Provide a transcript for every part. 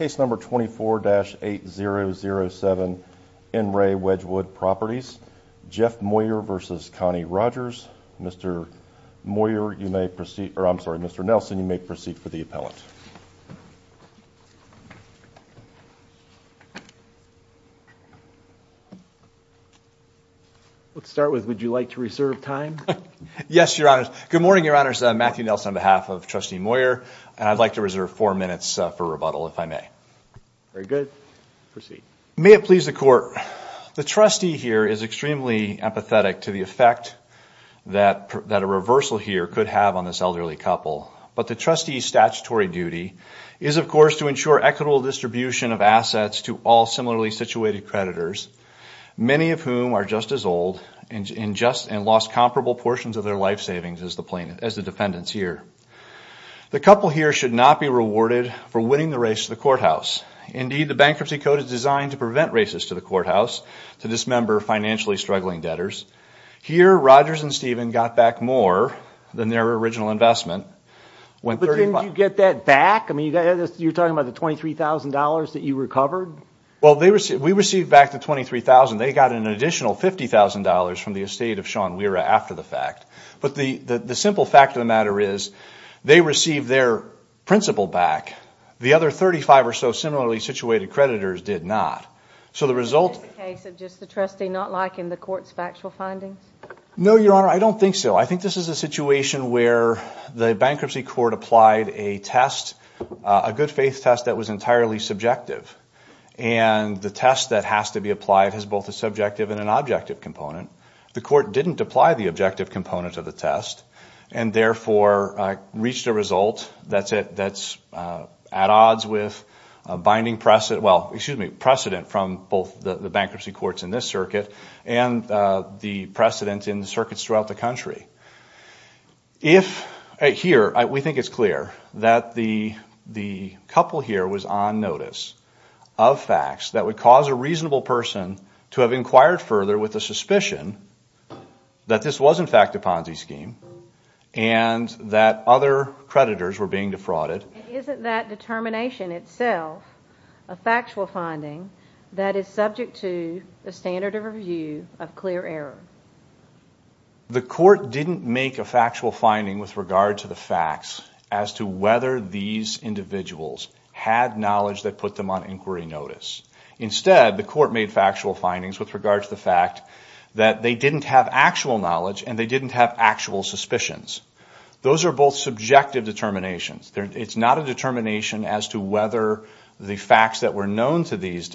Mr. Moyer you may proceed or I'm sorry Mr. Nelson you may proceed for the appellant. Let's start with would you like to reserve time? Yes your honors. Good morning your honors. Matthew Nelson on behalf of Trustee Moyer and I'd like to reserve four minutes for rebuttal if you don't mind. Very good. May it please the court. The trustee here is extremely empathetic to the effect that that a reversal here could have on this elderly couple but the trustees statutory duty is of course to ensure equitable distribution of assets to all similarly situated creditors many of whom are just as old and just and lost comparable portions of their life savings as the plaintiff as the defendants here. The couple here should not be rewarded for winning the race to the courthouse. Indeed the bankruptcy code is designed to prevent races to the courthouse to dismember financially struggling debtors. Here Rogers and Stephen got back more than their original investment. But didn't you get that back? I mean you're talking about the $23,000 that you recovered? Well they received we received back the $23,000 they got an additional $50,000 from the estate of Shawn Wehra after the fact but the the simple fact of the principal back the other 35 or so similarly situated creditors did not. So the result of just the trustee not liking the court's factual findings? No your honor I don't think so. I think this is a situation where the bankruptcy court applied a test a good-faith test that was entirely subjective and the test that has to be applied has both a subjective and an objective component. The court didn't apply the objective component of the test and therefore reached a result that's it that's at odds with a binding precedent well excuse me precedent from both the bankruptcy courts in this circuit and the precedent in the circuits throughout the country. If here we think it's clear that the the couple here was on notice of facts that would cause a reasonable person to have inquired further with the suspicion that this was in fact a Ponzi scheme and that other creditors were being defrauded. Isn't that determination itself a factual finding that is subject to the standard of review of clear error? The court didn't make a factual finding with regard to the facts as to whether these individuals had knowledge that put them on inquiry notice. Instead the court made factual findings with regard to the fact that they didn't have actual knowledge and they didn't have actual suspicions. Those are both subjective determinations. It's not a determination as to whether the facts that were known to these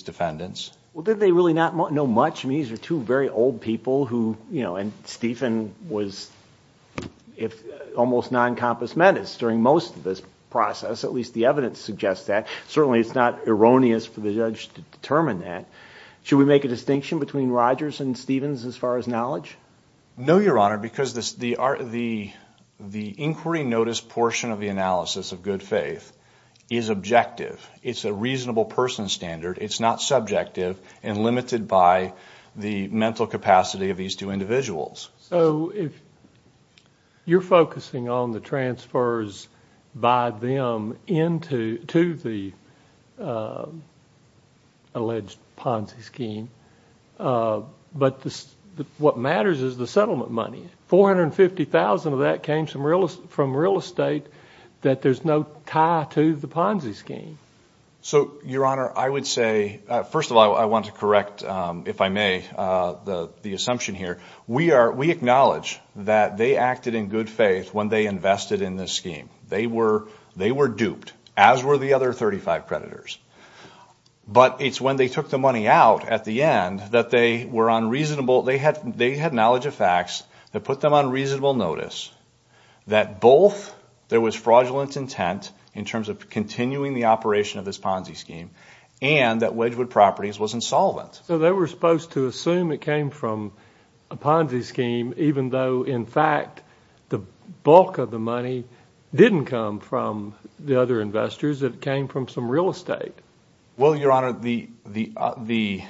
defendants. Well did they really not know much? These are two very old people who you know and Stephen was if almost non compass menace during most of this process at least the evidence suggests that certainly it's not erroneous for the judge to determine that. Should we make a distinction between Rogers and Stevens as far as knowledge? No your honor because this the art of the the inquiry notice portion of the analysis of good faith is objective. It's a reasonable person standard. It's not subjective and limited by the mental capacity of these two individuals. So if you're focusing on the transfers by them into to the alleged Ponzi scheme but this what matters is the settlement money. 450,000 of that came some real from real estate that there's no tie to the Ponzi scheme. So your honor I would say first of all I want to correct if I may the the assumption here we are we acknowledge that they acted in good faith when they invested in this scheme. They were they were duped as were the other 35 predators but it's when they took the money out at the end that they were unreasonable they had they had knowledge of facts that put them on reasonable notice that both there was fraudulent intent in terms of continuing the operation of this Ponzi scheme and that Wedgwood properties was insolvent. So they were supposed to assume it came from a Ponzi scheme even though in fact the bulk of the money didn't come from the other investors that came from some real estate. Well your honor the the the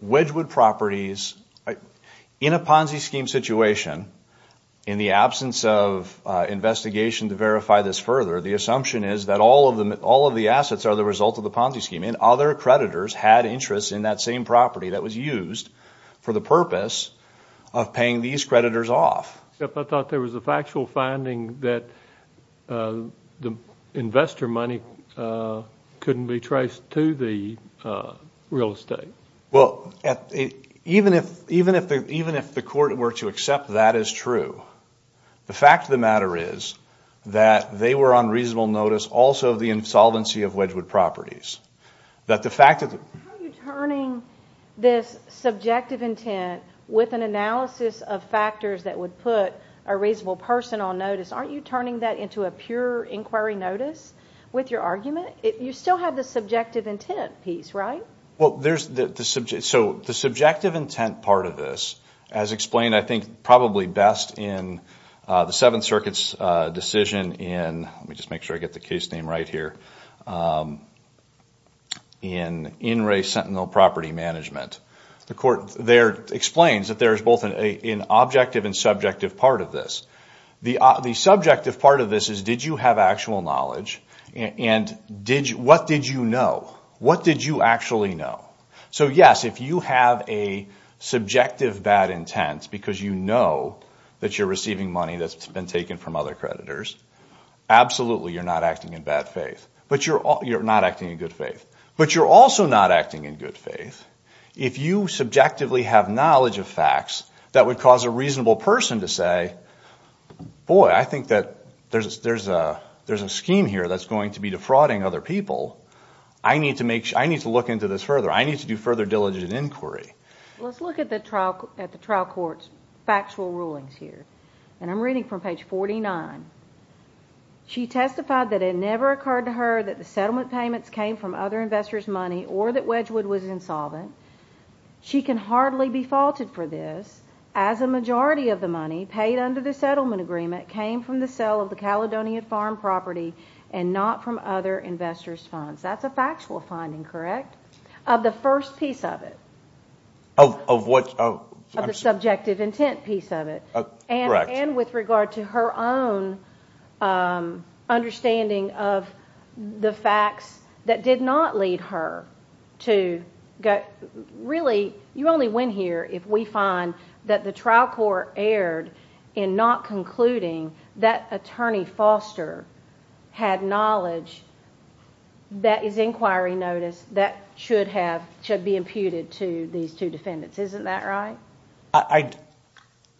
Wedgwood properties in a Ponzi scheme situation in the absence of investigation to verify this further the assumption is that all of them all of the assets are the result of the Ponzi scheme and other creditors had interest in that same property that was used for the purpose of paying these creditors off. I thought there was a factual finding that the investor money couldn't be traced to the real estate. Well even if even if they even if the court were to accept that is true the fact of the matter is that they were on reasonable notice also the insolvency of Wedgwood properties that the fact of the turning this subjective intent with an analysis of factors that would put a reasonable personal notice aren't you turning that into a pure inquiry notice with your argument if you still have the subjective intent piece right? Well there's the subject so the subjective intent part of this as explained I think probably best in the Seventh Circuit's decision in let me just make sure I get the case name right here in In re Sentinel property management the court there explains that there is both an objective and subjective part of this the the subjective part of this is did you have actual knowledge and did you what did you know what did you actually know so yes if you have a subjective bad intents because you know that you're receiving money that's been taken from other creditors absolutely you're not acting in bad faith but you're all you're not acting in good faith but you're also not acting in good faith if you subjectively have knowledge of facts that would cause a reasonable person to say boy I think that there's there's a there's a scheme here that's going to be defrauding other people I need to make sure I need to look into this further I need to do further diligent inquiry let's look at the trial at the trial courts factual rulings here and I'm reading from page 49 she testified that it never occurred to her that the settlement payments came from other investors money or that Wedgwood was insolvent she can hardly be faulted for this as a majority of the money paid under the settlement agreement came from the sale of the Caledonian farm property and not from other investors funds that's a factual finding correct of the first piece of it oh of what of the subjective intent piece of it and with regard to her own understanding of the facts that did not lead her to get really you only win here if we find that the trial court erred in not concluding that attorney Foster had knowledge that is inquiry notice that should have should be imputed to these two defendants isn't that right I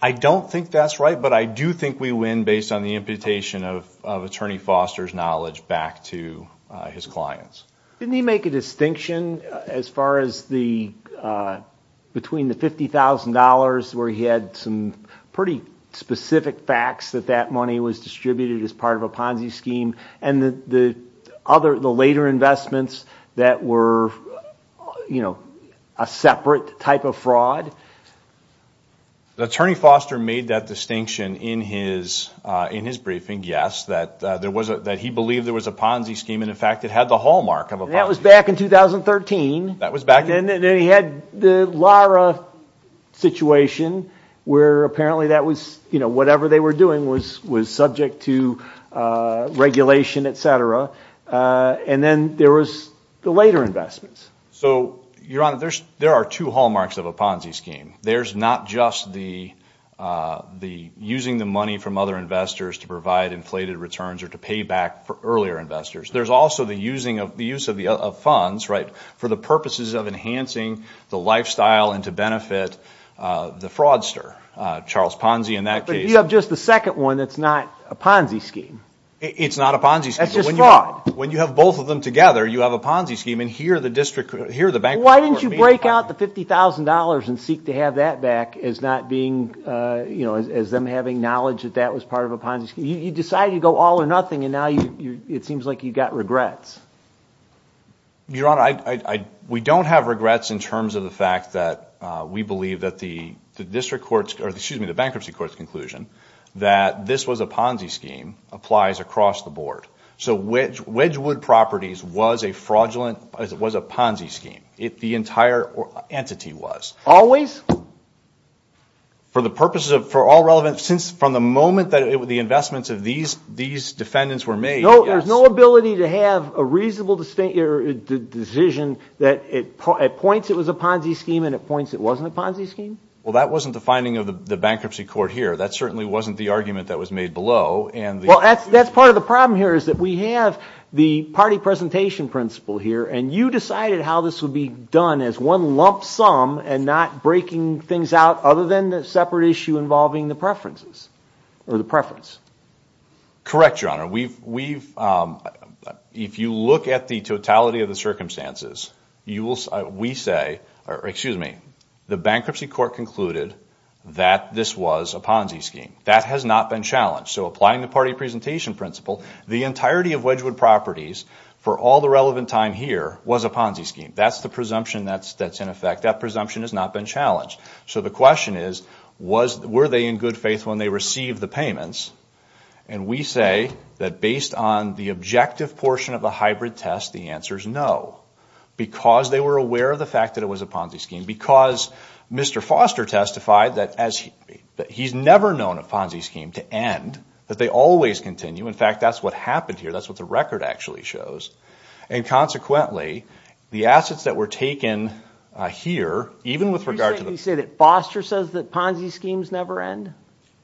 I don't think that's right but I do think we win based on the imputation of attorney Foster's knowledge back to his clients didn't he make a distinction as far as the between the $50,000 where he had some pretty specific facts that that money was distributed as part of a that were you know a separate type of fraud the attorney Foster made that distinction in his in his briefing yes that there was a that he believed there was a Ponzi scheme and in fact it had the hallmark of a that was back in 2013 that was back and then he had the Lara situation where apparently that was you know whatever they were doing was was subject to regulation etc and then there was the later investments so your honor there's there are two hallmarks of a Ponzi scheme there's not just the the using the money from other investors to provide inflated returns or to pay back for earlier investors there's also the using of the use of the funds right for the purposes of enhancing the lifestyle and to benefit the fraudster Charles Ponzi in that case you have just the second one that's not a Ponzi scheme it's not a Ponzi that's just wrong when you have both of them together you have a Ponzi scheme and here the district here the bank why didn't you break out the $50,000 and seek to have that back as not being you know as them having knowledge that that was part of a Ponzi scheme you decided to go all or nothing and now you it seems like you've got regrets your honor I we don't have regrets in terms of the fact that we believe that the district courts or excuse me the bankruptcy courts conclusion that this was a Ponzi scheme applies across the board so which which of the wood properties was a fraudulent as it was a Ponzi scheme it the entire entity was always for the purposes of for all relevant since from the moment that it would the investments of these these defendants were made no there's no ability to have a reasonable distinct your decision that it points it was a Ponzi scheme and it points it wasn't a Ponzi scheme well that wasn't the finding of the bankruptcy court here that certainly wasn't the argument that was made below and well that's that's part of the problem here is that we have the party presentation principle here and you decided how this would be done as one lump sum and not breaking things out other than the separate issue involving the preferences or the preference correct your honor we've we've if you look at the totality of the circumstances you will we say or excuse me the bankruptcy court concluded that this was a Ponzi scheme that has not been challenged so applying the party presentation principle the entirety of Wedgwood properties for all the relevant time here was a Ponzi scheme that's the presumption that's that's in effect that presumption has not been challenged so the question is was were they in good faith when they receive the payments and we say that based on the objective portion of the hybrid test the answers no because they were aware of the fact that it was a Ponzi scheme because mr. Foster testified that as he's never known a Ponzi scheme to end that they always continue in fact that's what happened here that's what the record actually shows and consequently the assets that were taken here even with regard to the say that Foster says that Ponzi schemes never end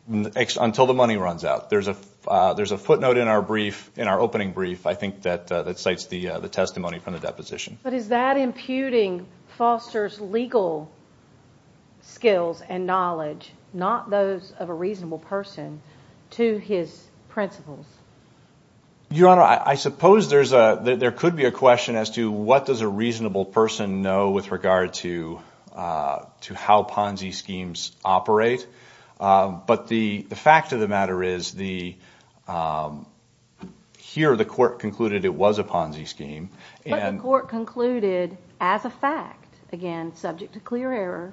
until the money runs out there's a there's a footnote in our brief in our opening brief I think that that cites the the testimony from the deposition but is that imputing Foster's legal skills and knowledge not those of a reasonable person to his principles your honor I suppose there's a there could be a question as to what does a reasonable person know with regard to to how Ponzi schemes operate but the the fact of the matter is the here the court concluded it was a Ponzi scheme and court concluded as a fact again subject to your error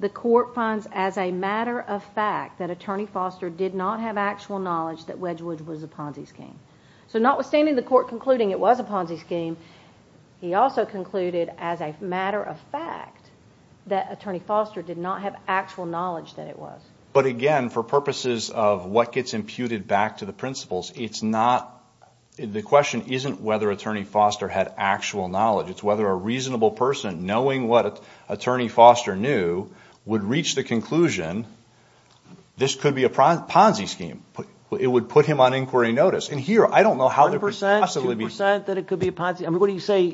the court finds as a matter of fact that attorney Foster did not have actual knowledge that Wedgewood was a Ponzi scheme so notwithstanding the court concluding it was a Ponzi scheme he also concluded as a matter of fact that attorney Foster did not have actual knowledge that it was but again for purposes of what gets imputed back to the principles it's not the question isn't whether attorney Foster had actual knowledge it's whether a reasonable person knowing what attorney Foster knew would reach the conclusion this could be a Ponzi scheme but it would put him on inquiry notice and here I don't know how the percent that it could be a Ponzi I mean what do you say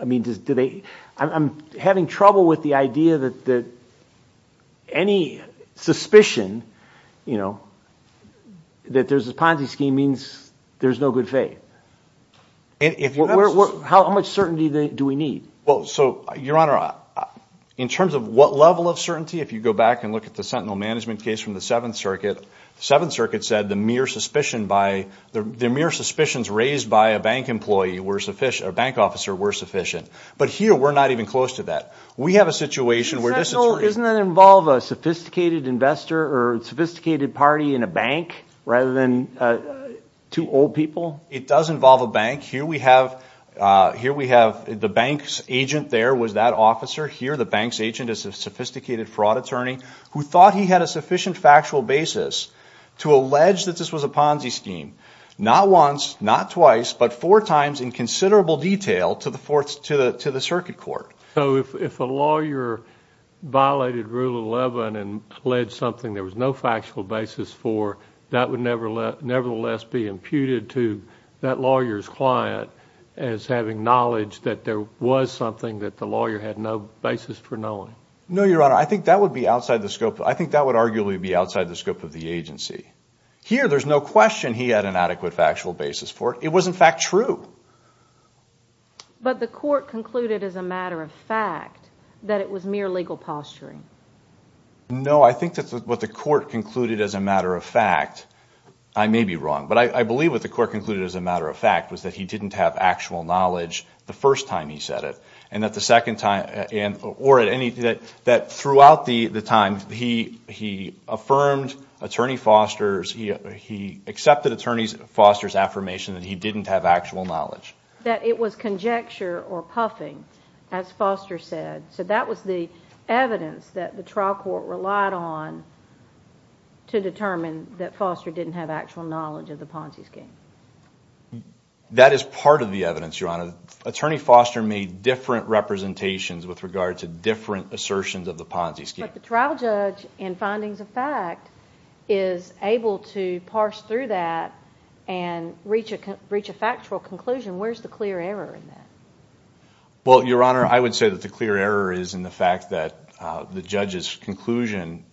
I mean just do they I'm having trouble with the idea that that any suspicion you know that there's a Ponzi scheme means there's no good faith how much certainty do we need well so your honor in terms of what level of certainty if you go back and look at the Sentinel management case from the Seventh Circuit the Seventh Circuit said the mere suspicion by the mere suspicions raised by a bank employee were sufficient a bank officer were sufficient but here we're not even close to that we have a situation where this isn't that involve a sophisticated investor or sophisticated party in a bank rather than two old people it does involve a bank here we have here we have the bank's agent there was that officer here the bank's agent is a sophisticated fraud attorney who thought he had a sufficient factual basis to allege that this was a Ponzi scheme not once not twice but four times in considerable detail to the fourth to the to the court so if a lawyer violated rule 11 and pledged something there was no factual basis for that would never let nevertheless be imputed to that lawyers client as having knowledge that there was something that the lawyer had no basis for knowing no your honor I think that would be outside the scope I think that would arguably be outside the scope of the agency here there's no question he had an adequate factual basis for it was in fact true but the court concluded as a matter of fact that it was mere legal posturing no I think that's what the court concluded as a matter of fact I may be wrong but I believe what the court concluded as a matter of fact was that he didn't have actual knowledge the first time he said it and that the second time and or at any that that throughout the the time he he affirmed attorney Foster's he he accepted attorneys Foster's affirmation that he didn't have actual knowledge that it was conjecture or puffing as Foster said so that was the evidence that the trial court relied on to determine that Foster didn't have actual knowledge of the Ponzi scheme that is part of the evidence your honor attorney Foster made different representations with regard to different assertions of the Ponzi scheme the trial judge and findings of fact is able to parse through that and reach a factual conclusion where's the clear error in that well your honor I would say that the clear error is in the fact that the judge's conclusion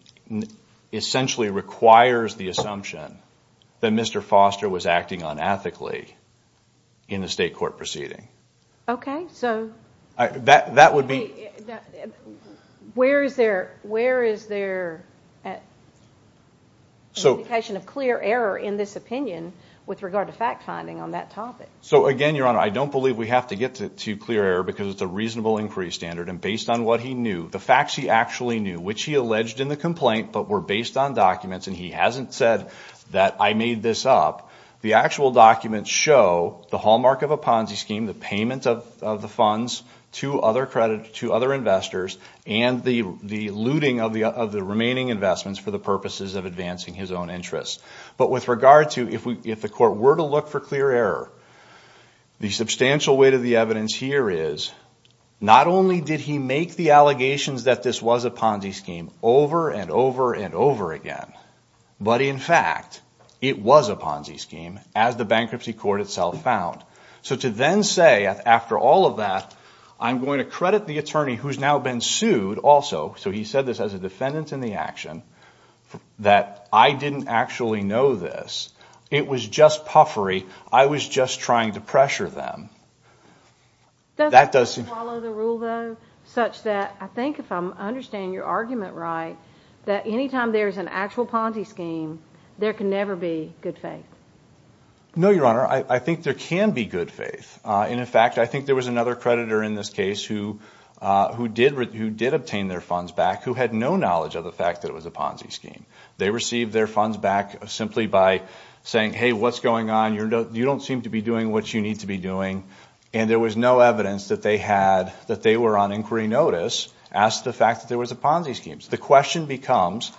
essentially requires the assumption that mr. Foster was acting unethically in the state court proceeding okay so that that would be where is there where is there so in this opinion with regard to fact-finding on that topic so again your honor I don't believe we have to get to clear error because it's a reasonable inquiry standard and based on what he knew the facts he actually knew which he alleged in the complaint but were based on documents and he hasn't said that I made this up the actual documents show the hallmark of a Ponzi scheme the payment of the funds to other credit to other investors and the the looting of the of the remaining investments for the purposes of advancing his own interests but with regard to if we if the court were to look for clear error the substantial weight of the evidence here is not only did he make the allegations that this was a Ponzi scheme over and over and over again but in fact it was a Ponzi scheme as the bankruptcy court itself found so to then say after all of that I'm going to credit the attorney who's now been sued also so he said this as a defendant in the action that I didn't actually know this it was just puffery I was just trying to pressure them that does such that I think if I understand your argument right that anytime there is an actual Ponzi scheme there can never be good faith no your honor I think there can be good faith and in fact I think there was another creditor in this case who who did who did obtain their funds back who had no knowledge of the fact that it was a Ponzi scheme they received their funds back simply by saying hey what's going on you know you don't seem to be doing what you need to be doing and there was no evidence that they had that they were on inquiry notice asked the fact that there was a Ponzi schemes the question becomes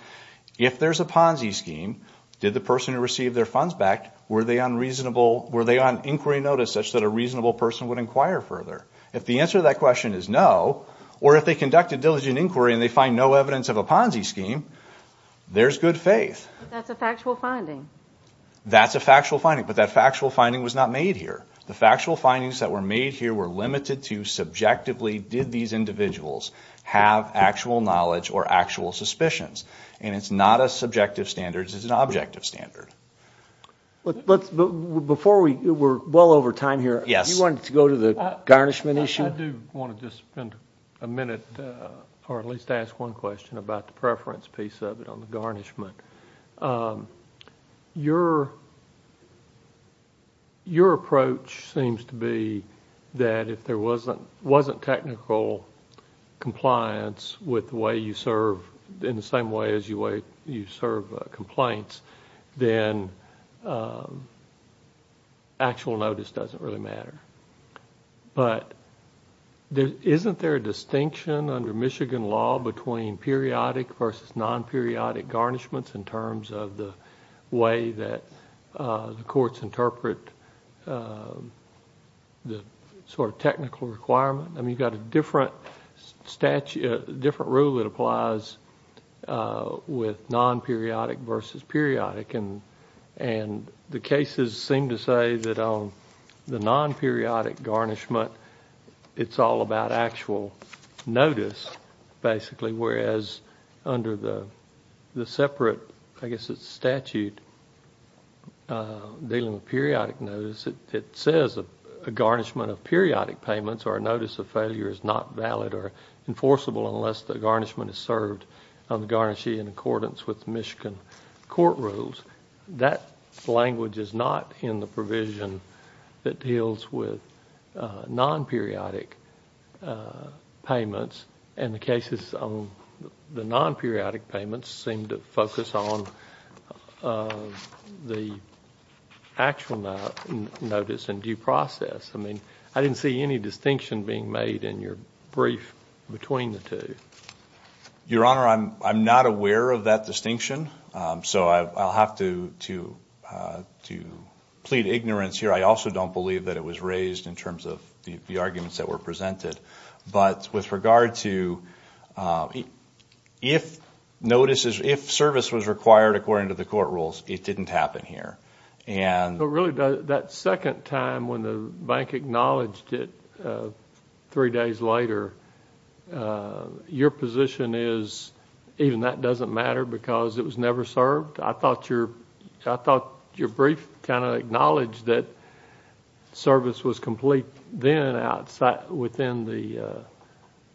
if there's a Ponzi scheme did the person who received their funds back were they unreasonable were they on inquiry notice such that a reasonable person would inquire further if the answer that question is no or if they conduct a diligent inquiry and they find no evidence of a Ponzi scheme there's good faith that's a factual finding that's a factual finding but that factual finding was not made here the factual findings that were made here were limited to subjectively did these individuals have actual knowledge or actual suspicions and it's not a subjective standards is an objective standard but let's before we were well over time here yes you wanted to go to the garnishment issue a minute or at least ask one question about the preference piece of it on the garnishment your your approach seems to be that if there wasn't wasn't technical compliance with the way you serve in the same way as you wait you serve complaints then actual notice doesn't really matter but there isn't there a distinction under Michigan law between periodic versus non-periodic garnishments in terms of the way that the courts interpret the sort of technical requirement and you've got a different statute different rule that applies with non-periodic versus periodic and and the cases seem to say that on the non-periodic garnishment it's all about actual notice basically whereas under the the separate I guess it's statute dealing with periodic notice it says a garnishment of periodic payments or a notice of failure is not valid or enforceable unless the garnishment is served on the garnishee in accordance with Michigan court rules that language is not in the provision that deals with non-periodic payments and the cases on the non-periodic payments seem to focus on the actual notice and due process I mean I didn't see any distinction being made in your brief between the two your honor I'm not aware of that distinction so I'll have to to to plead ignorance here I also don't believe that it was raised in terms of the arguments that were presented but with regard to if notices if service was required according to the court rules it didn't happen here and really that second time when the bank acknowledged it three days later your position is even that doesn't matter because it was never served I thought your I thought your brief kind of acknowledged that service was complete then outside within the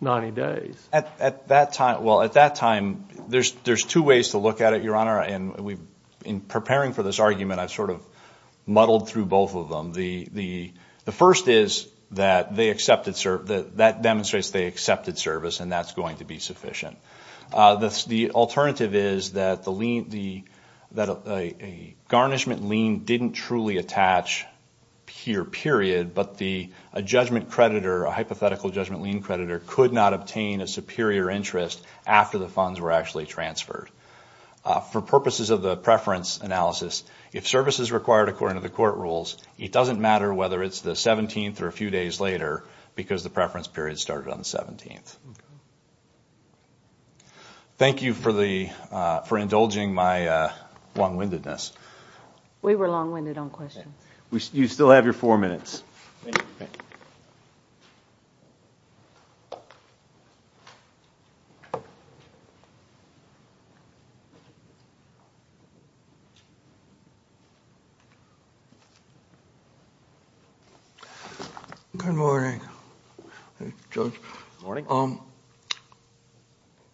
90 days at that time well at that time there's there's two ways to look at it your honor and we've been preparing for this argument I've sort of muddled through both of them the the the first is that they accepted serve that that demonstrates they accepted service and that's going to be sufficient that's the alternative is that the lien the that a garnishment lien didn't truly attach here period but the a judgment creditor a hypothetical judgment lien creditor could not obtain a superior interest after the funds were transferred for purposes of the preference analysis if service is required according to the court rules it doesn't matter whether it's the 17th or a few days later because the preference period started on the 17th thank you for the for indulging my long-windedness we were long-winded on question we still have your four minutes you good morning morning um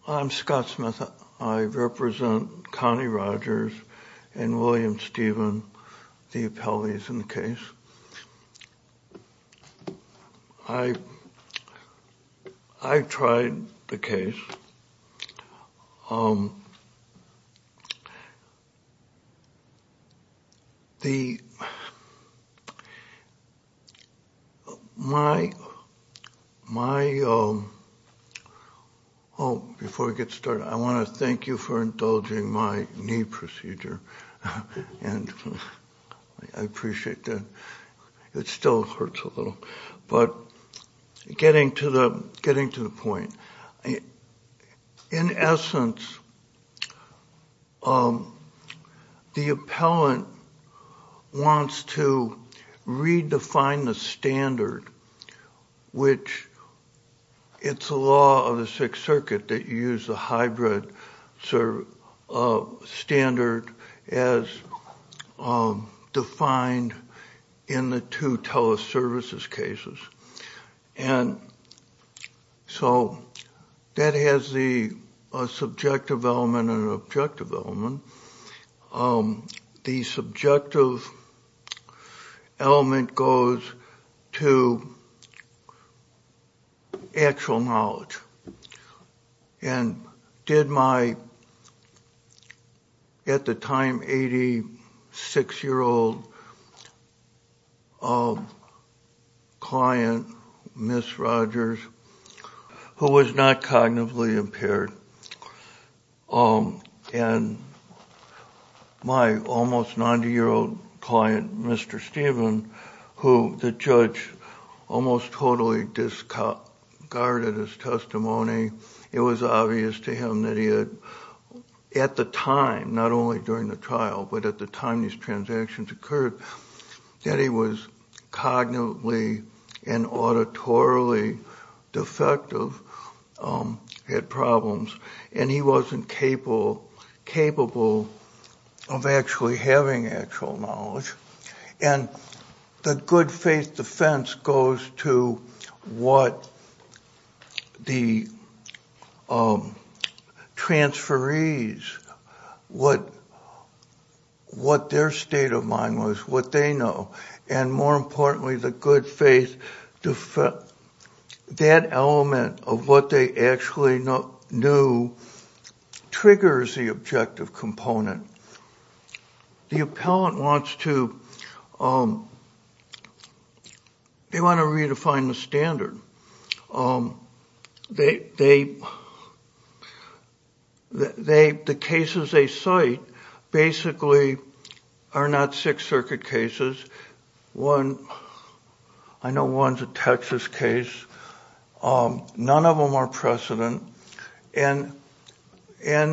I'm Scott Smith I represent Connie Rogers and William the my my oh before we get started I want to thank you for indulging my knee procedure and I appreciate that it still hurts a little but getting to the getting to the point in essence the appellant wants to redefine the standard which it's a law of the Sixth Circuit that use the hybrid serve of standard as defined in the two teleservices cases and so that has the subjective element an objective element the subjective element goes to actual knowledge and did my at the time 86 year old client miss Rogers who was not cognitively impaired um and my almost 90 year old client mr. Steven who the judge almost totally discarded his testimony it was obvious to him that he had at the time not only during the trial but at the time these transactions occurred that he was cognitively and auditorily defective had problems and he wasn't capable capable of actually having actual knowledge and the good-faith defense goes to what the transfer ease what what their state of mind was what they know and more importantly the good faith to fit that element of what they actually not new triggers the objective component the appellant wants to they want to redefine the standard they they they the cases a site basically are not Sixth and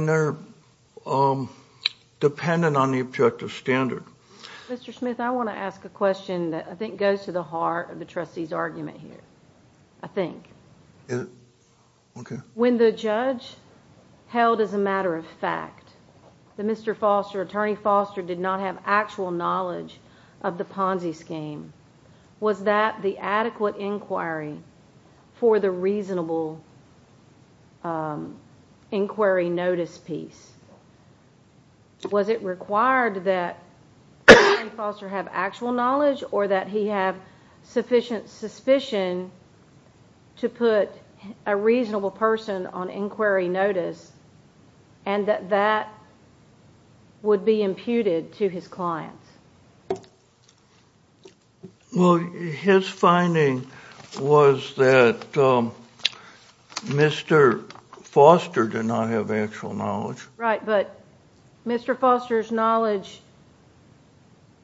they're dependent on the objective standard mr. Smith I want to ask a question that I think goes to the heart of the trustees argument here I think okay when the judge held as a matter of fact the mr. Foster attorney Foster did not have actual knowledge of the Ponzi scheme was that the adequate inquiry for the reasonable inquiry notice piece was it required that Foster have actual knowledge or that he have sufficient suspicion to put a reasonable person on inquiry notice and that that would be imputed to his clients well his finding was that mr. Foster did not have actual knowledge right but mr. Foster's knowledge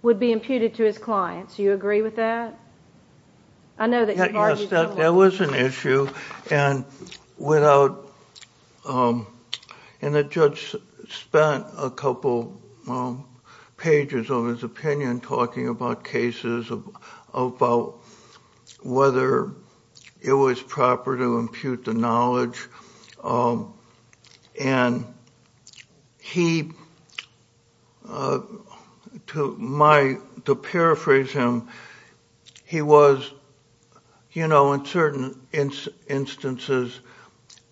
would be imputed to his clients you agree with that I know that there was an issue and without and the judge spent a couple pages on his talking about cases of about whether it was proper to impute the knowledge and he took my to paraphrase him he was you know in certain instances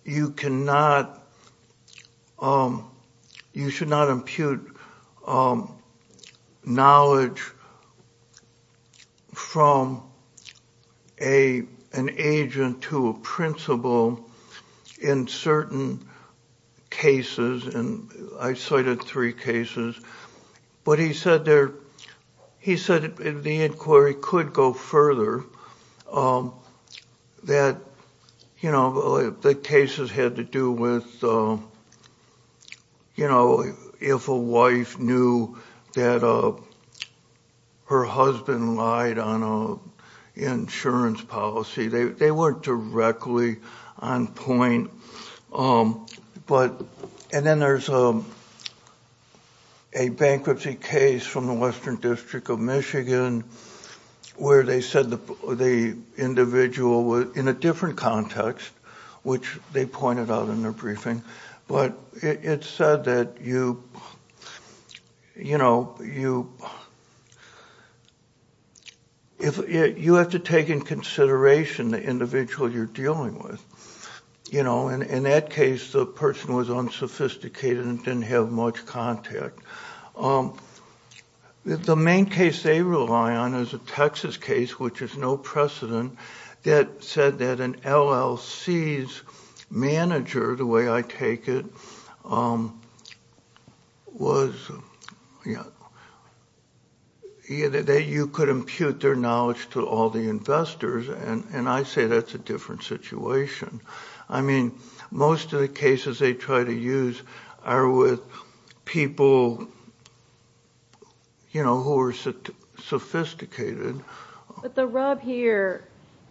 you cannot you should not impute knowledge from a an agent to a principal in certain cases and I cited three cases but he said there he said the inquiry could go further that you know the cases had to do with you know if a wife knew that uh her husband lied on a insurance policy they weren't directly on point um but and then there's a bankruptcy case from the Western District of Michigan where they said the individual was in a different context which they pointed out in their briefing but it said that you you know you if you have to take in consideration the individual you're dealing with you know and in that case the person was unsophisticated and didn't have much contact if the main case they rely on is a Texas case which is no precedent that said that an LLC's manager the way I take it was yeah you could impute their knowledge to all the investors and and I say that's a different situation I mean most of the sophisticated but the rub here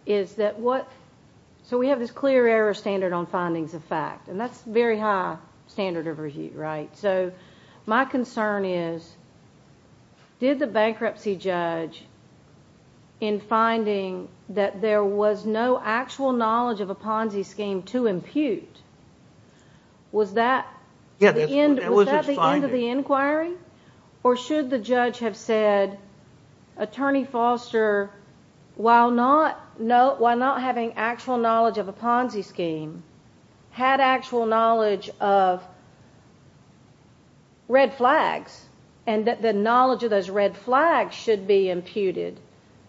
is that what so we have this clear error standard on findings of fact and that's very high standard of review right so my concern is did the bankruptcy judge in finding that there was no actual knowledge of a Ponzi scheme to impute was that yeah that was at the end of the inquiry or should the judge have said attorney Foster while not no while not having actual knowledge of a Ponzi scheme had actual knowledge of red flags and that the knowledge of those red flags should be imputed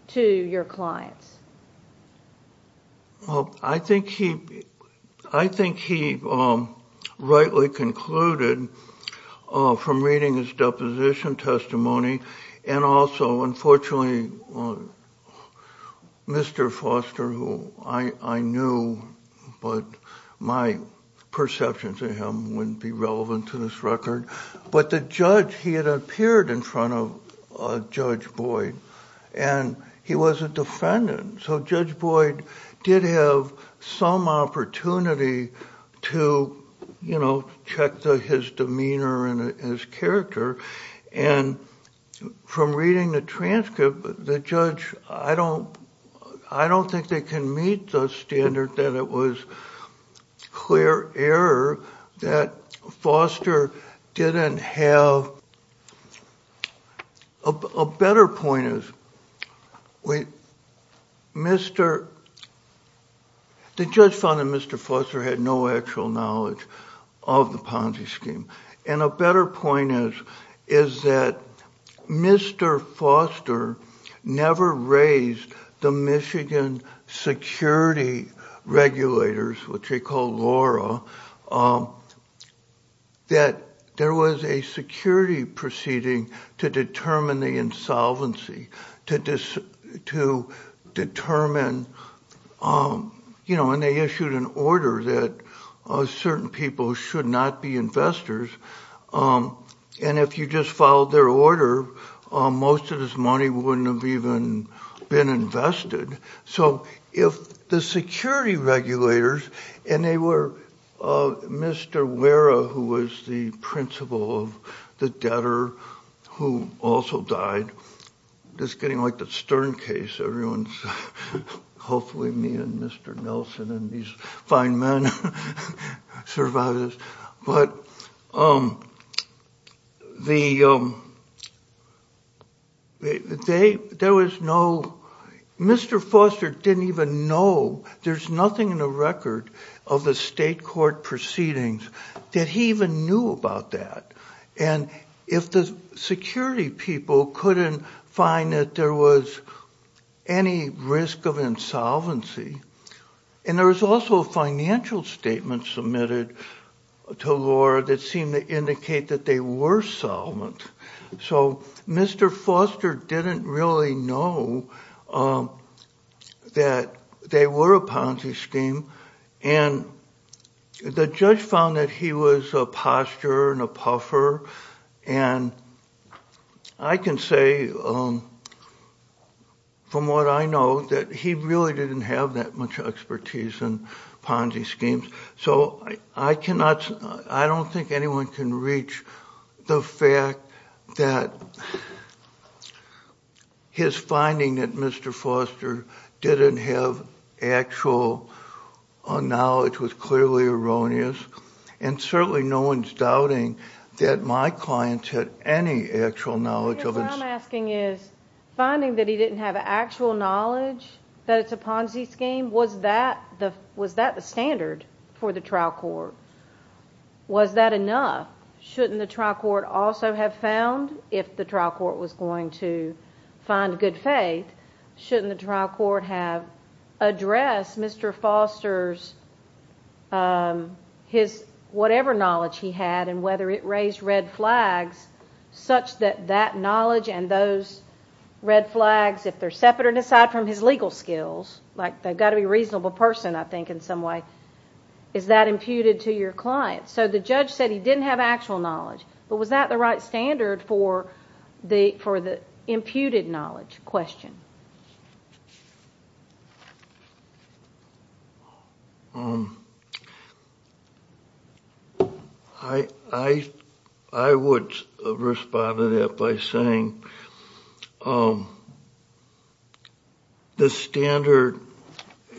to your clients well I think he I think he rightly concluded from reading his deposition testimony and also unfortunately mr. Foster who I I knew but my perception to him wouldn't be relevant to this record but the judge he had appeared in front of judge Boyd and he was a defendant so judge Boyd did have some opportunity to you know check the his demeanor and his character and from reading the transcript the judge I don't I don't think they can meet the standard that it was clear error that Foster didn't have a better point is wait mr. the judge found that mr. Foster had no actual knowledge of the Ponzi scheme and a better point is is that mr. Foster never raised the Michigan security regulators which he called Laura that there was a security proceeding to determine the insolvency to this to determine you know and they issued an order that certain people should not be investors and if you just followed their order most of this money wouldn't have even been invested so if the security regulators and they were mr. Wera who was the principal of the debtor who also died just getting like the Stern case everyone's hopefully me and mr. Nelson and these fine men survivors but um the they there was no mr. Foster didn't even know there's nothing in the record of the state court proceedings that he even knew about that and if the security people couldn't find that there was any risk of insolvency and there was also a financial statement submitted to Laura that seemed to indicate that they were solvent so mr. Foster didn't really know that they were a Ponzi scheme and the judge found that he was a posture and a puffer and I can say from what I know that he really didn't have that much expertise and Ponzi schemes so I cannot I don't think anyone can reach the fact that his finding that mr. Foster didn't have actual knowledge was clearly erroneous and certainly no one's doubting that my clients had any actual knowledge of it I'm asking is finding that he didn't have actual knowledge that it's a Ponzi scheme was that the was that the standard for the trial court was that enough shouldn't the trial court also have found if the trial court was going to find good faith shouldn't the trial court have addressed mr. Foster's his whatever knowledge he had and whether it raised red flags such that that knowledge and those red flags if they're separate aside from his legal skills like they've got to be reasonable person I think in some way is that imputed to your client so the judge said he didn't have actual knowledge but was that the right standard for the for the imputed knowledge question I I would respond to that by saying the standard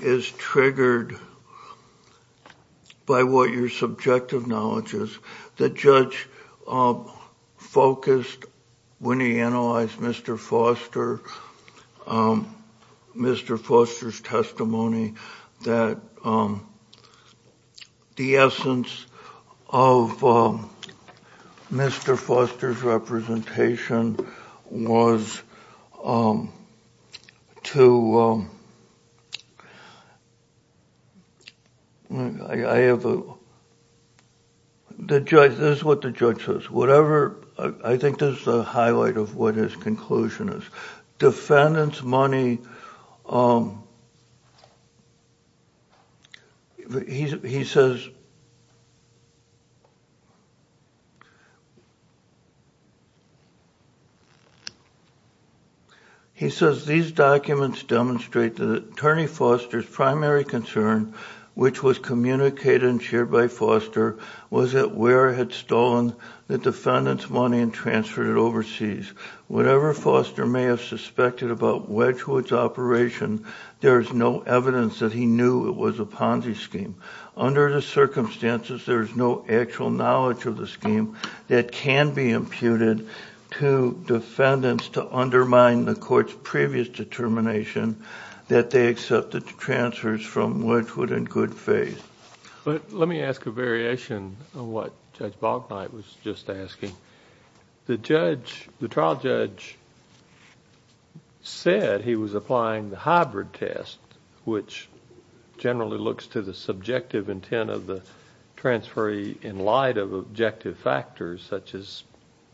is triggered by what your subjective knowledge is the judge focused when he analyzed mr. Foster mr. Foster's testimony that the essence of mr. Foster's representation was to I have a the judge this is what the judge says whatever I think there's a highlight of what his conclusion is defendants money he says he says these documents demonstrate the attorney Foster's primary concern which was communicated and shared by Foster was that where had stolen the defendants money and transferred it overseas whatever Foster may have suspected about Wedgwood's operation there's no evidence that he knew it was a Ponzi scheme under the circumstances there's no actual knowledge of the scheme that can be imputed to defendants to undermine the court's previous determination that they accepted to transfers from which would in good faith but let me ask a variation of what Bob Knight was just asking the judge the trial judge said he was applying the hybrid test which generally looks to the subjective intent of the transferee in light of objective factors such as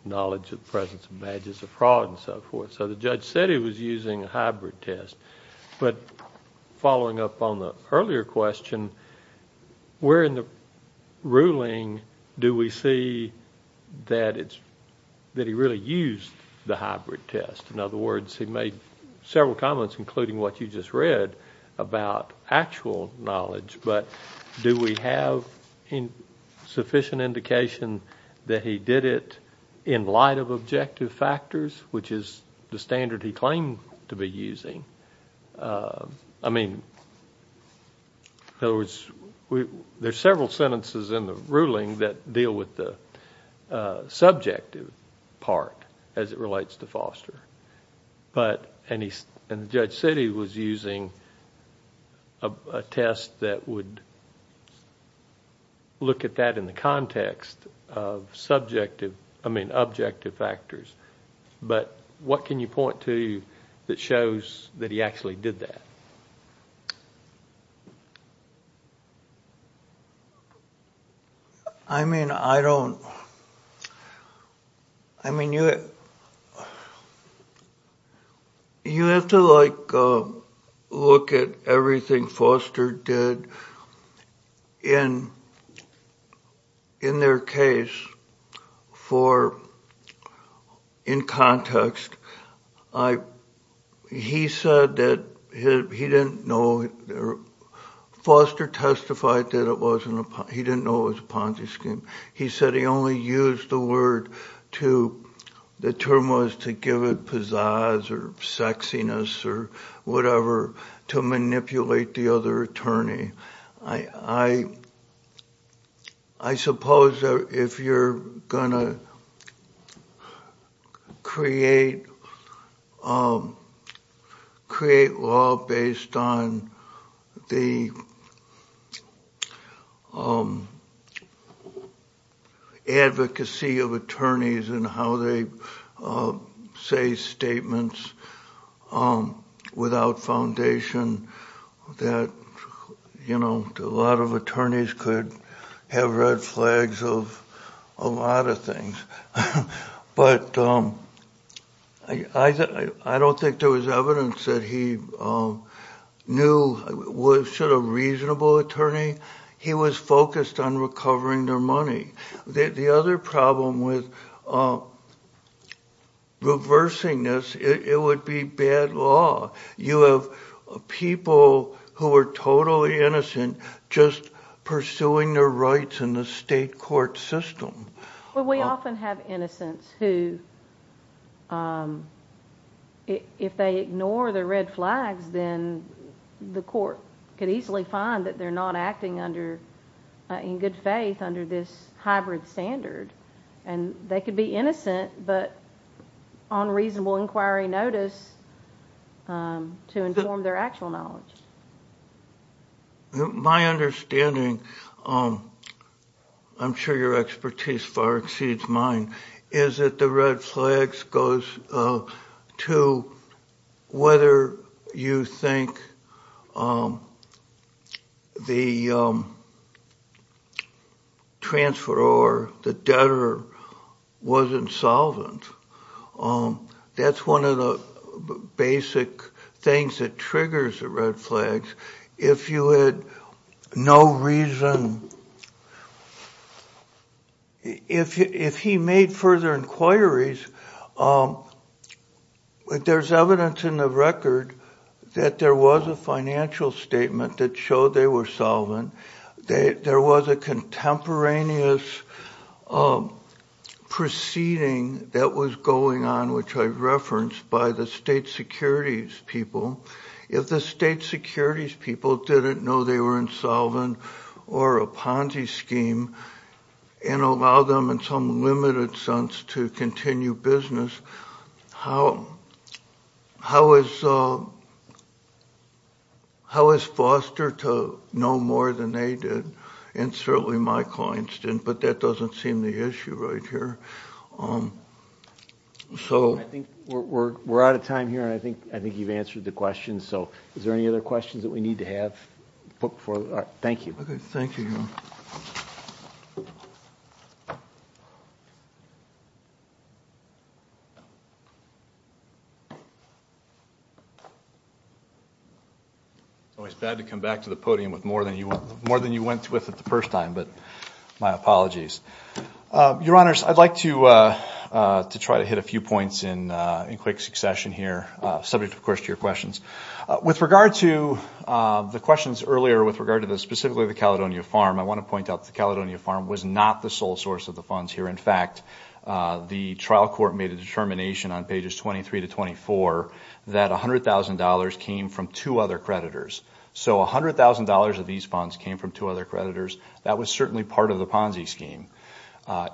knowledge of presence of badges of fraud and so forth so the judge said he was using a hybrid test but following up on the earlier question we're in the ruling do we see that it's that he really used the hybrid test in other words he made several comments including what you just read about actual knowledge but do we have in sufficient indication that he did it in light of objective factors which is the standard he claimed to be using I mean in other words we there's several sentences in the ruling that deal with the subjective part as it relates to Foster but any judge said he was using a test that would look at that in the context of subjective I mean objective factors but what can you point to that shows that he actually did that I mean I don't I mean you it you have to like look at everything Foster did in in their case for in context I he said that he didn't know Foster testified that it wasn't a he didn't know it was a Ponzi scheme he said he only used the word to the term was to give it pizzazz or sexiness or whatever to manipulate the other attorney I I suppose if you're gonna create create law based on the advocacy of attorneys and how they say statements without foundation that you know a lot of attorneys could have red flags of a lot of things but I don't think there was evidence that he knew what should a reasonable attorney he was focused on recovering their money the other problem with reversing this it would be bad law you have people who are totally innocent just pursuing their rights in the state court system well we often have innocents who if they ignore the red flags then the court could easily find that they're not acting under in good faith under this hybrid standard and they could be innocent but on reasonable inquiry notice to inform their actual knowledge my understanding I'm sure your expertise far exceeds mine is that the flags goes to whether you think the transfer or the debtor wasn't solvent that's one of the basic things that triggers the red flags if you had no reason if he made further inquiries but there's evidence in the record that there was a financial statement that showed they were solvent they there was a contemporaneous proceeding that was going on which I referenced by the state securities people if the state securities people didn't know they were solvent or a Ponzi scheme and allow them in some limited sense to continue business how how is how is foster to know more than they did and certainly my clients didn't but that doesn't seem the issue right here so we're out of time here and I think I think you've answered the question so is there any other questions that we need to have put before thank you okay thank you it's bad to come back to the podium with more than you were more than you went with at the first time but my apologies your honors I'd like to to try to hit a few points in in quick succession here subject of course to your questions with regard to the questions earlier with regard to the specifically the Caledonia farm I want to point out the Caledonia farm was not the sole source of the funds here in fact the trial court made a determination on pages 23 to 24 that $100,000 came from two other creditors so $100,000 of these funds came from two other creditors that was certainly part of the Ponzi scheme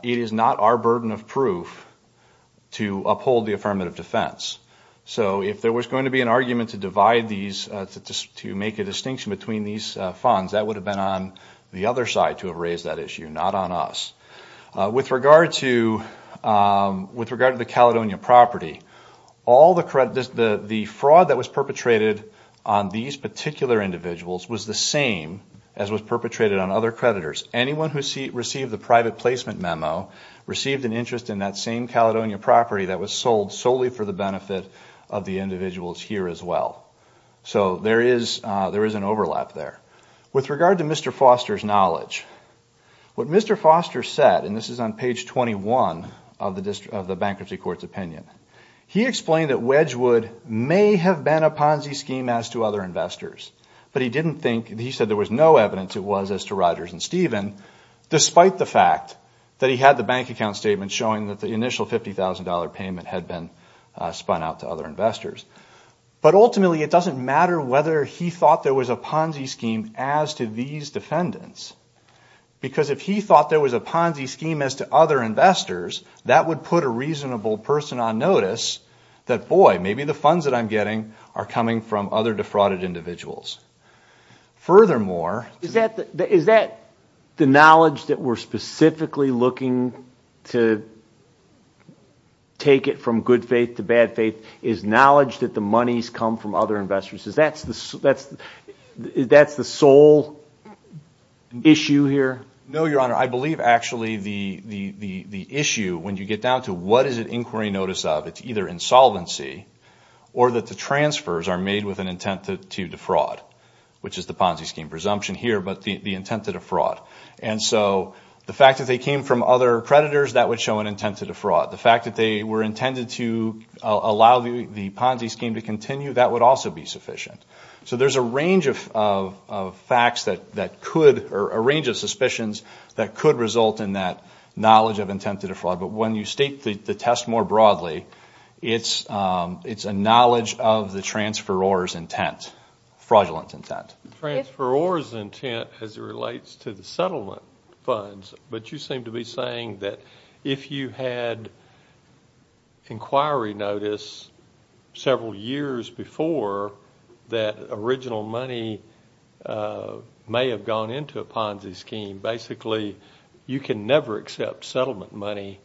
it is not our burden of proof to uphold the affirmative defense so if there was going to be an argument to divide these to make a distinction between these funds that would have been on the other side to have raised that issue not on us with regard to with regard to the Caledonia property all the credit is the the fraud that was perpetrated on these particular individuals was the same as was perpetrated on other creditors anyone who received the private placement memo received an interest in that same Caledonia property that was sold solely for the benefit of the individuals here as well so there is there is an overlap there with regard to Mr. Foster's knowledge what Mr. Foster said and this is on page 21 of the district of the bankruptcy courts opinion he explained that Wedgwood may have been a Ponzi scheme as to other investors but he didn't think he said there was no evidence it was as to Rogers and Steven despite the fact that he had the bank account statement showing that the $50,000 payment had been spun out to other investors but ultimately it doesn't matter whether he thought there was a Ponzi scheme as to these defendants because if he thought there was a Ponzi scheme as to other investors that would put a reasonable person on notice that boy maybe the funds that I'm getting are coming from other defrauded individuals furthermore is that is that the knowledge that we're specifically looking to take it from good faith to bad faith is knowledge that the money's come from other investors is that's the that's that's the sole issue here no your honor I believe actually the the the issue when you get down to what is it inquiry notice of it's either insolvency or that the transfers are made with an intent to defraud which is the Ponzi scheme presumption here but the the intent to defraud and so the fact that they came from other predators that would show an intent to defraud the fact that they were intended to allow the Ponzi scheme to continue that would also be sufficient so there's a range of facts that that could or a range of suspicions that could result in that knowledge of intent to defraud but when you state the test more broadly it's it's a knowledge of the transfer or intent fraudulent intent transfer or is intent as it relates to the settlement funds but you seem to be saying that if you had inquiry notice several years before that original money may have gone into a Ponzi scheme basically you can never accept settlement money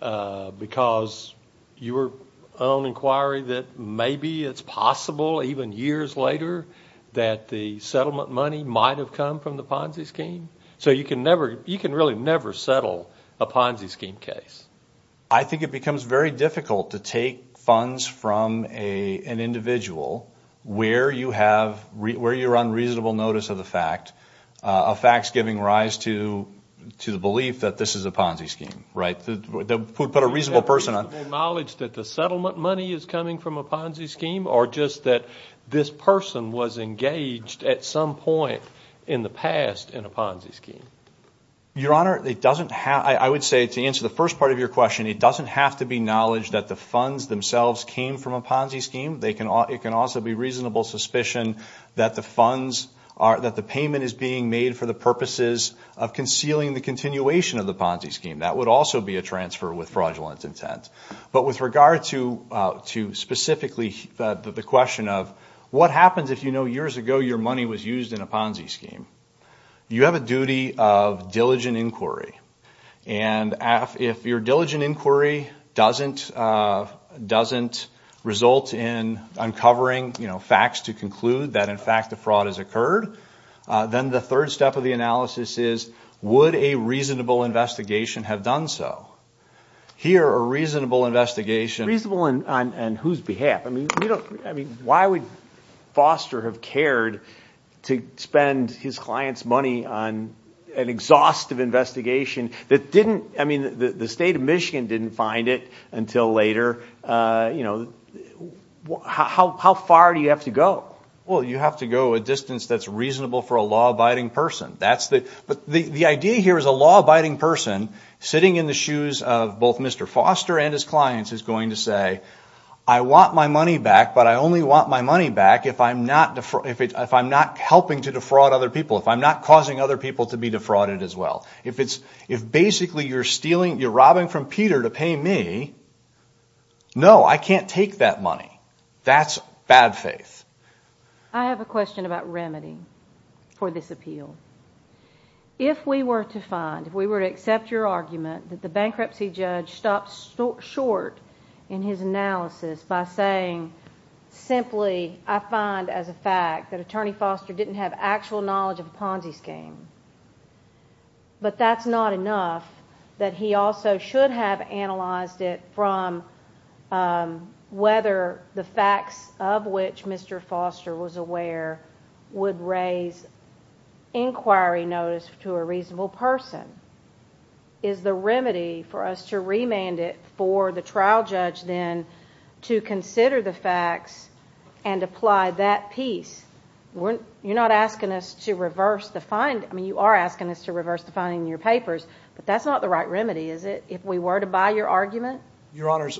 because your own inquiry that maybe it's possible even years later that the settlement money might have come from the Ponzi scheme so you can never you can really never settle a Ponzi scheme case I think it becomes very difficult to take funds from a an individual where you have read where you're on reasonable notice of the fact of facts giving rise to to the belief that this is a Ponzi scheme right that would put a reasonable person on knowledge that the settlement money is coming from a Ponzi scheme or just that this person was engaged at some point in the past in a Ponzi scheme your honor it doesn't have I would say to answer the first part of your question it doesn't have to be knowledge that the funds themselves came from a Ponzi scheme they can all it can also be reasonable suspicion that the funds are that the payment is being made for the purposes of concealing the continuation of the Ponzi scheme that would also be a transfer with fraudulent intent but with regard to to specifically the question of what happens if you know years ago your money was used in a Ponzi scheme you have a duty of diligent inquiry and if your diligent inquiry doesn't doesn't result in uncovering you know facts to conclude that in fact the fraud has occurred then the third step of the analysis is would a reasonable investigation have done so here are reasonable investigation reasonable and on and whose behalf I mean I mean why would foster have cared to spend his clients money on an exhaustive investigation that didn't I mean the state of Michigan didn't find it until later you know how far do you have to go well you have to go a distance that's reasonable for a law-abiding person that's the idea here is a law-abiding person sitting in the shoes of both Mr. Foster and his clients is going to say I want my money back but I only want my money back if I'm not if I'm not helping to defraud other people if I'm not causing other people to be defrauded as well if it's if basically you're stealing your robbing from Peter to pay me no I can't take that money that's bad faith I have a question about remedy for this appeal if we were to find if we were to accept your argument that the bankruptcy judge stopped short in his analysis by saying simply I find as a fact that attorney Foster didn't have actual knowledge of a Ponzi scheme but that's not enough that he also should have analyzed it from whether the facts of which Mr. Foster was aware would raise inquiry notice to a reasonable person is the remedy for us to remand it for the trial judge then to consider the facts and apply that piece weren't you're not asking us to reverse the find I mean you are asking us to reverse the finding in your papers but that's not the right remedy is it if we were to buy your argument your honors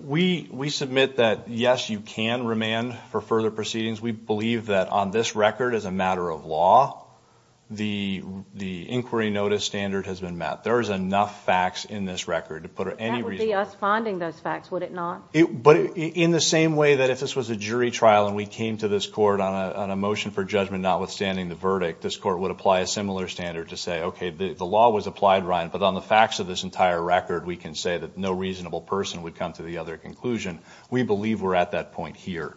we we admit that yes you can remand for further proceedings we believe that on this record as a matter of law the the inquiry notice standard has been met there is enough facts in this record to put it any responding those facts would it not it but in the same way that if this was a jury trial and we came to this court on a motion for judgment notwithstanding the verdict this court would apply a similar standard to say okay the law was applied Ryan but on the facts of this entire record we can say that no reasonable person would come to the other conclusion we believe we're at that point here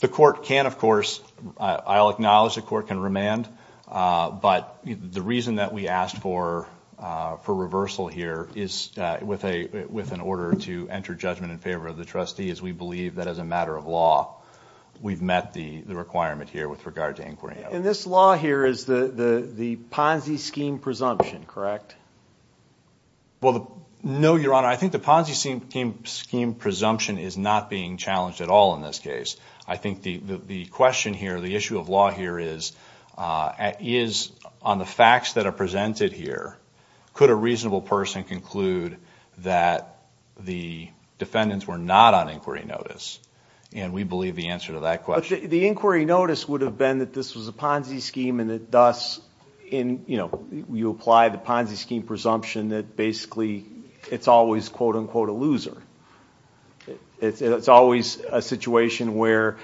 the court can of course I'll acknowledge the court can remand but the reason that we asked for for reversal here is with a with an order to enter judgment in favor of the trustee as we believe that as a matter of law we've met the the requirement here with regard to inquiry and this law here is the the Ponzi scheme presumption correct well no your honor I think the Ponzi scheme scheme presumption is not being challenged at all in this case I think the the question here the issue of law here is is on the facts that are presented here could a reasonable person conclude that the defendants were not on inquiry notice and we believe the answer to that question the inquiry notice would have been that this was a Ponzi scheme and it does in you know you apply the Ponzi scheme presumption that basically it's always quote-unquote a loser it's always a situation where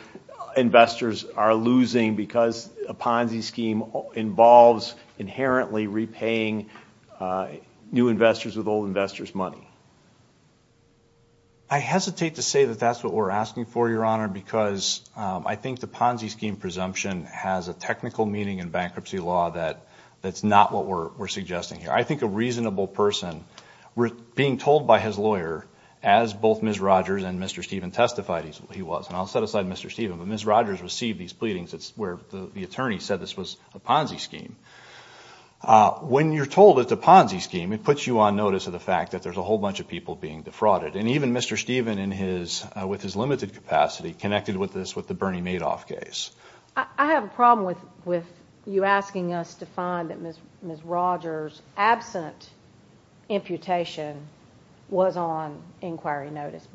investors are losing because a Ponzi scheme involves inherently repaying new investors with old investors money I hesitate to say that that's what we're asking for your honor because I think the Ponzi scheme presumption has a technical meaning in bankruptcy law that that's not what we're we're suggesting here I think a reasonable person we're being told by his lawyer as both miss Rogers and mr. Stephen testified he was and I'll set aside mr. Stephen but miss Rogers received these pleadings it's where the attorney said this was a Ponzi scheme when you're told it's a Ponzi scheme it puts you on notice of the fact that there's a whole bunch of people being defrauded and even mr. Stephen in his with his limited capacity connected with this with the you asking us to find that miss miss Rogers absent imputation was on inquiry notice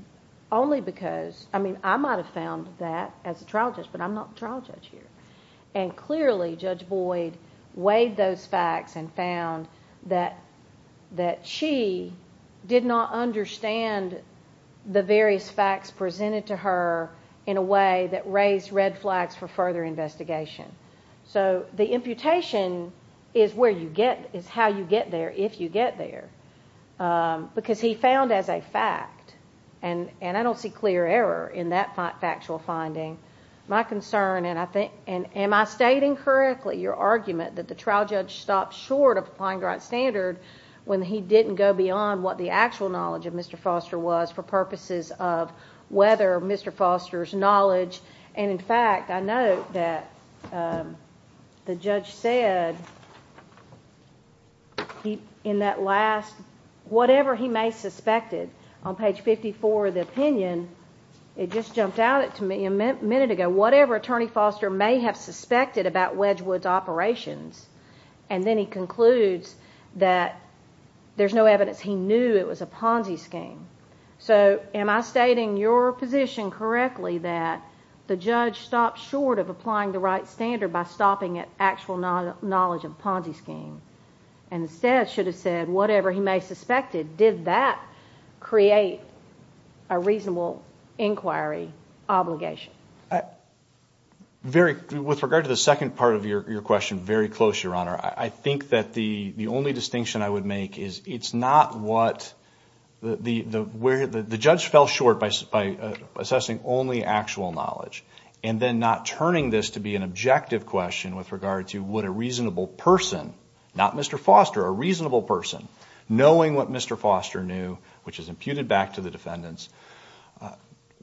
only because I mean I might have found that as a trial just but I'm not trial judge here and clearly judge Boyd weighed those facts and found that that she did not understand the various facts presented to her in a way that raised red flags for further investigation so the imputation is where you get is how you get there if you get there because he found as a fact and and I don't see clear error in that factual finding my concern and I think and am I stating correctly your argument that the trial judge stopped short of applying the right standard when he didn't go beyond what the actual knowledge of mr. Foster was for purposes of whether mr. Foster's knowledge and in fact I know that the judge said he in that last whatever he may suspected on page 54 the opinion it just jumped out at to me a minute ago whatever attorney Foster may have suspected about Wedgewood's operations and then he concludes that there's no knew it was a Ponzi scheme so am I stating your position correctly that the judge stopped short of applying the right standard by stopping it actual knowledge of Ponzi scheme and instead should have said whatever he may suspected did that create a reasonable inquiry obligation very with regard to the second part of your question very close your honor I think that the the distinction I would make is it's not what the the where the judge fell short by by assessing only actual knowledge and then not turning this to be an objective question with regard to what a reasonable person not mr. Foster a reasonable person knowing what mr. Foster knew which is imputed back to the defendants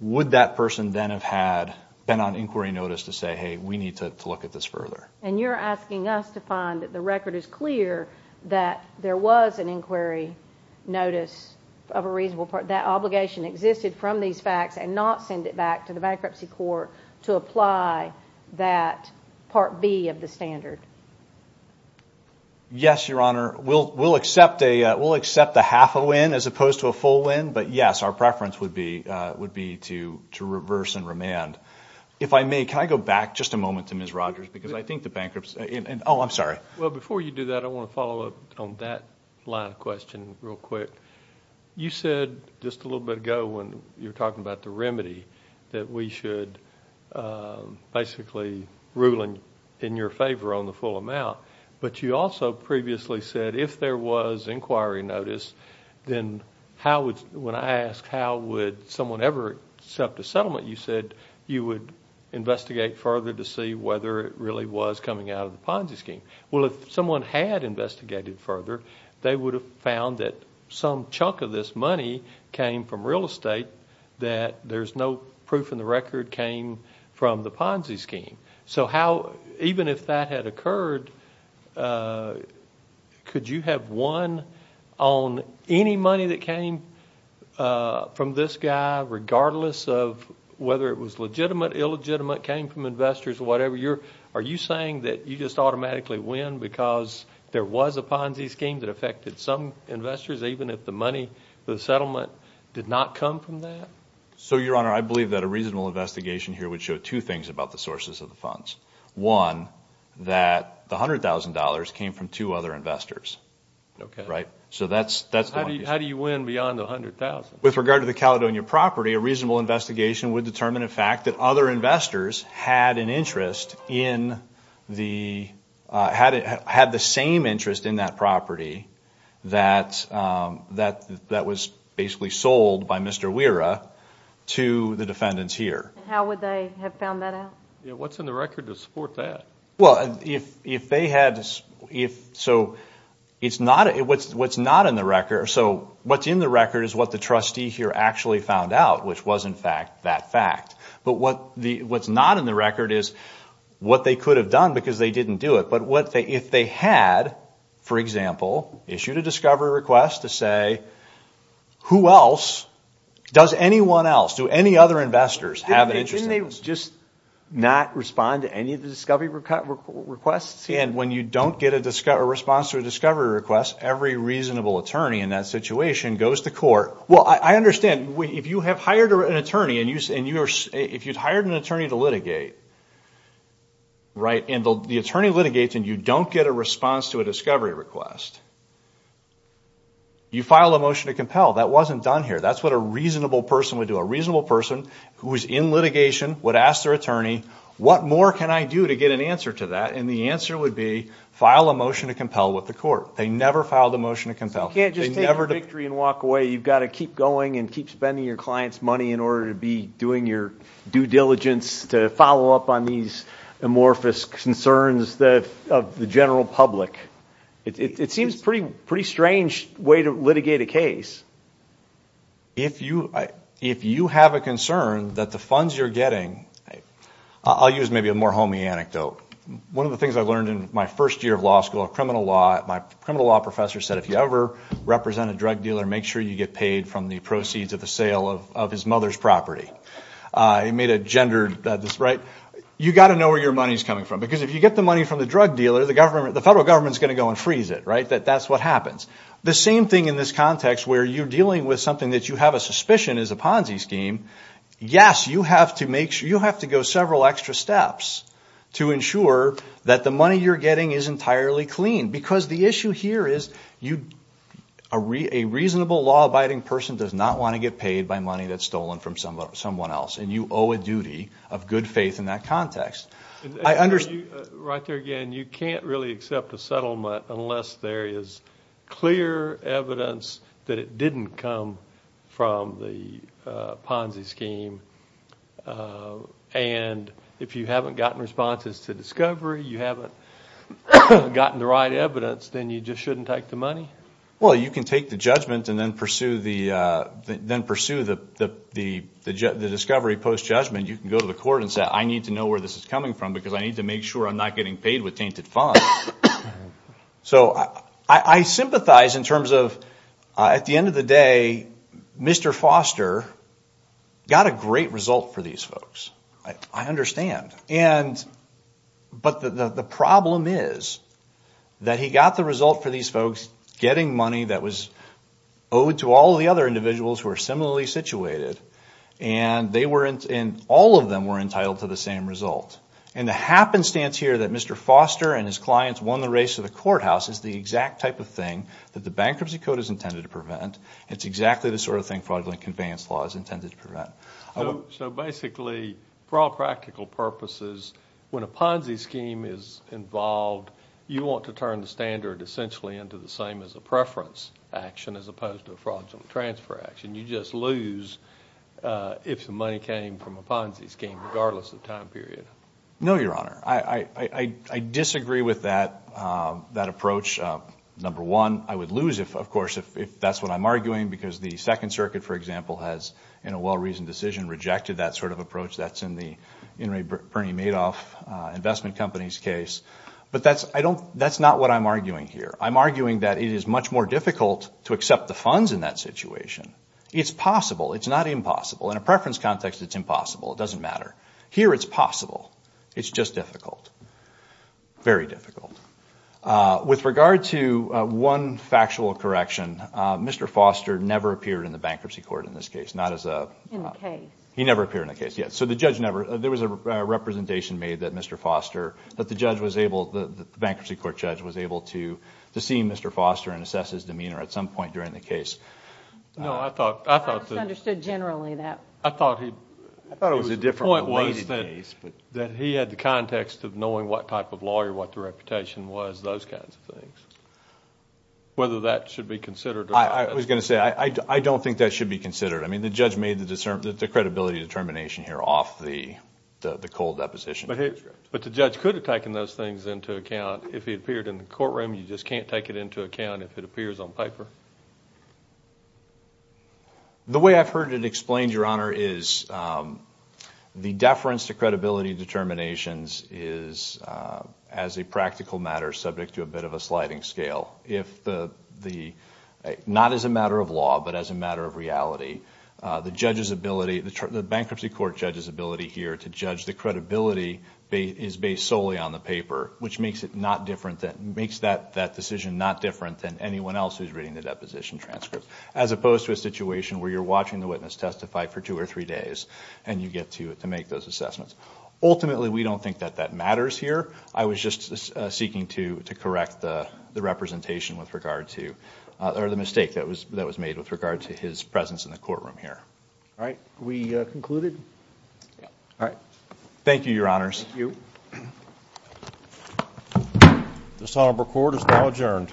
would that person then have had been on inquiry notice to say hey we need to look at this further and you're asking us to find that the record is clear that there was an inquiry notice of a reasonable part that obligation existed from these facts and not send it back to the bankruptcy court to apply that part B of the standard yes your honor will will accept a will accept a half a win as opposed to a full win but yes our preference would be would be to to reverse and remand if I may can I go back just a moment to miss Rogers because I think the bankruptcy and oh I'm sorry well before you do that I want to follow up on that line of question real quick you said just a little bit ago when you're talking about the remedy that we should basically ruling in your favor on the full amount but you also previously said if there was inquiry notice then how would when I asked how would someone ever accept a you said you would investigate further to see whether it really was coming out of the Ponzi scheme well if someone had investigated further they would have found that some chunk of this money came from real estate that there's no proof in the record came from the Ponzi scheme so how even if that had occurred could you have won on any money that came from this guy regardless of whether it was legitimate illegitimate came from investors or whatever you're are you saying that you just automatically win because there was a Ponzi scheme that affected some investors even if the money the settlement did not come from that so your honor I believe that a reasonable investigation here would show two things about the sources of the funds one that the hundred thousand dollars came from two other investors okay right so that's that's how do you win beyond a hundred thousand with regard to the Caledonia property a reasonable investigation would determine a fact that other investors had an interest in the had it had the same interest in that property that that that was basically sold by mr. Wira to the defendants here how would they have what's in the record to support that well if if they had if so it's not it what's what's not in the record so what's in the record is what the trustee here actually found out which was in fact that fact but what the what's not in the record is what they could have done because they didn't do it but what they if they had for example issued a discovery request to say who else does anyone else do any other investors have an interest in they just not respond to any of the discovery requests and when you don't get a discover response to a discovery request every reasonable attorney in that situation goes to court well I understand if you have hired an attorney and use and you are if you'd hired an attorney to litigate right in the attorney litigates and you don't get a response to a discovery request you file a motion to compel that wasn't done here that's what a reasonable person would do a reasonable person who is in litigation would ask their attorney what more can I do to get an answer to that and the answer would be file a motion to compel with the court they never filed a motion to compel you've got to keep going and keep spending your clients money in order to be doing your due diligence to follow up on these amorphous concerns that of the general public it seems pretty pretty strange way to get a case if you if you have a concern that the funds you're getting I'll use maybe a more homey anecdote one of the things I learned in my first year of law school of criminal law my criminal law professor said if you ever represent a drug dealer make sure you get paid from the proceeds of the sale of his mother's property I made a gendered that this right you got to know where your money's coming from because if you get the money from the drug dealer the government the federal government's going to go and freeze it right that that's what happens the same thing in this context where you're dealing with something that you have a suspicion is a Ponzi scheme yes you have to make sure you have to go several extra steps to ensure that the money you're getting is entirely clean because the issue here is you a reasonable law-abiding person does not want to get paid by money that's stolen from someone someone else and you owe a duty of good faith in that context I understand right there again you can't really accept a settlement unless there is clear evidence that it didn't come from the Ponzi scheme and if you haven't gotten responses to discovery you haven't gotten the right evidence then you just shouldn't take the money well you can take the judgment and then pursue the then pursue the the the the discovery post judgment you can go to the court and say I need to know where this is coming from because I need to make sure I'm not getting paid with painted fun so I I sympathize in terms of at the end of the day mr. Foster got a great result for these folks I understand and but the the problem is that he got the result for these folks getting money that was owed to all the other individuals who are similarly situated and they weren't in all of them were entitled to the same result and the happenstance here that mr. Foster and his clients won the race to the courthouse is the exact type of thing that the bankruptcy code is intended to prevent it's exactly the sort of thing fraudulent conveyance law is intended to prevent so basically for all practical purposes when a Ponzi scheme is involved you want to turn the standard essentially into the same as a preference action as opposed to a fraudulent transfer action you just lose if the money came from a Ponzi scheme regardless of time period no your honor I I disagree with that that approach number one I would lose if of course if that's what I'm arguing because the Second Circuit for example has in a well-reasoned decision rejected that sort of approach that's in the in Ray Bernie Madoff investment companies case but that's I don't that's not what I'm arguing here I'm arguing that it is much more difficult to accept the funds in that situation it's possible it's not possible in a preference context it's impossible it doesn't matter here it's possible it's just difficult very difficult with regard to one factual correction mr. Foster never appeared in the bankruptcy court in this case not as a he never appeared in the case yet so the judge never there was a representation made that mr. Foster that the judge was able the bankruptcy court judge was able to to see mr. Foster and assess his demeanor at some point during the case no I thought I thought understood generally that I thought he thought it was a different one ways that he had the context of knowing what type of lawyer what the reputation was those kinds of things whether that should be considered I was gonna say I don't think that should be considered I mean the judge made the discernment the credibility determination here off the the cold deposition but hey but the judge could have taken those things into account if he appeared in the courtroom you just can't take it into account if it appears on paper the way I've heard it explained your honor is the deference to credibility determinations is as a practical matter subject to a bit of a sliding scale if the the not as a matter of law but as a matter of reality the judge's ability the bankruptcy court judge's ability here to judge the credibility is based solely on the paper which makes it not different that makes that that decision not different than anyone else who's reading the deposition transcript as opposed to a situation where you're watching the witness testify for two or three days and you get to it to make those assessments ultimately we don't think that that matters here I was just seeking to to correct the the representation with regard to or the mistake that was that was made with regard to his presence in the courtroom here all right we concluded all right thank you your honors you the Sauber court is now adjourned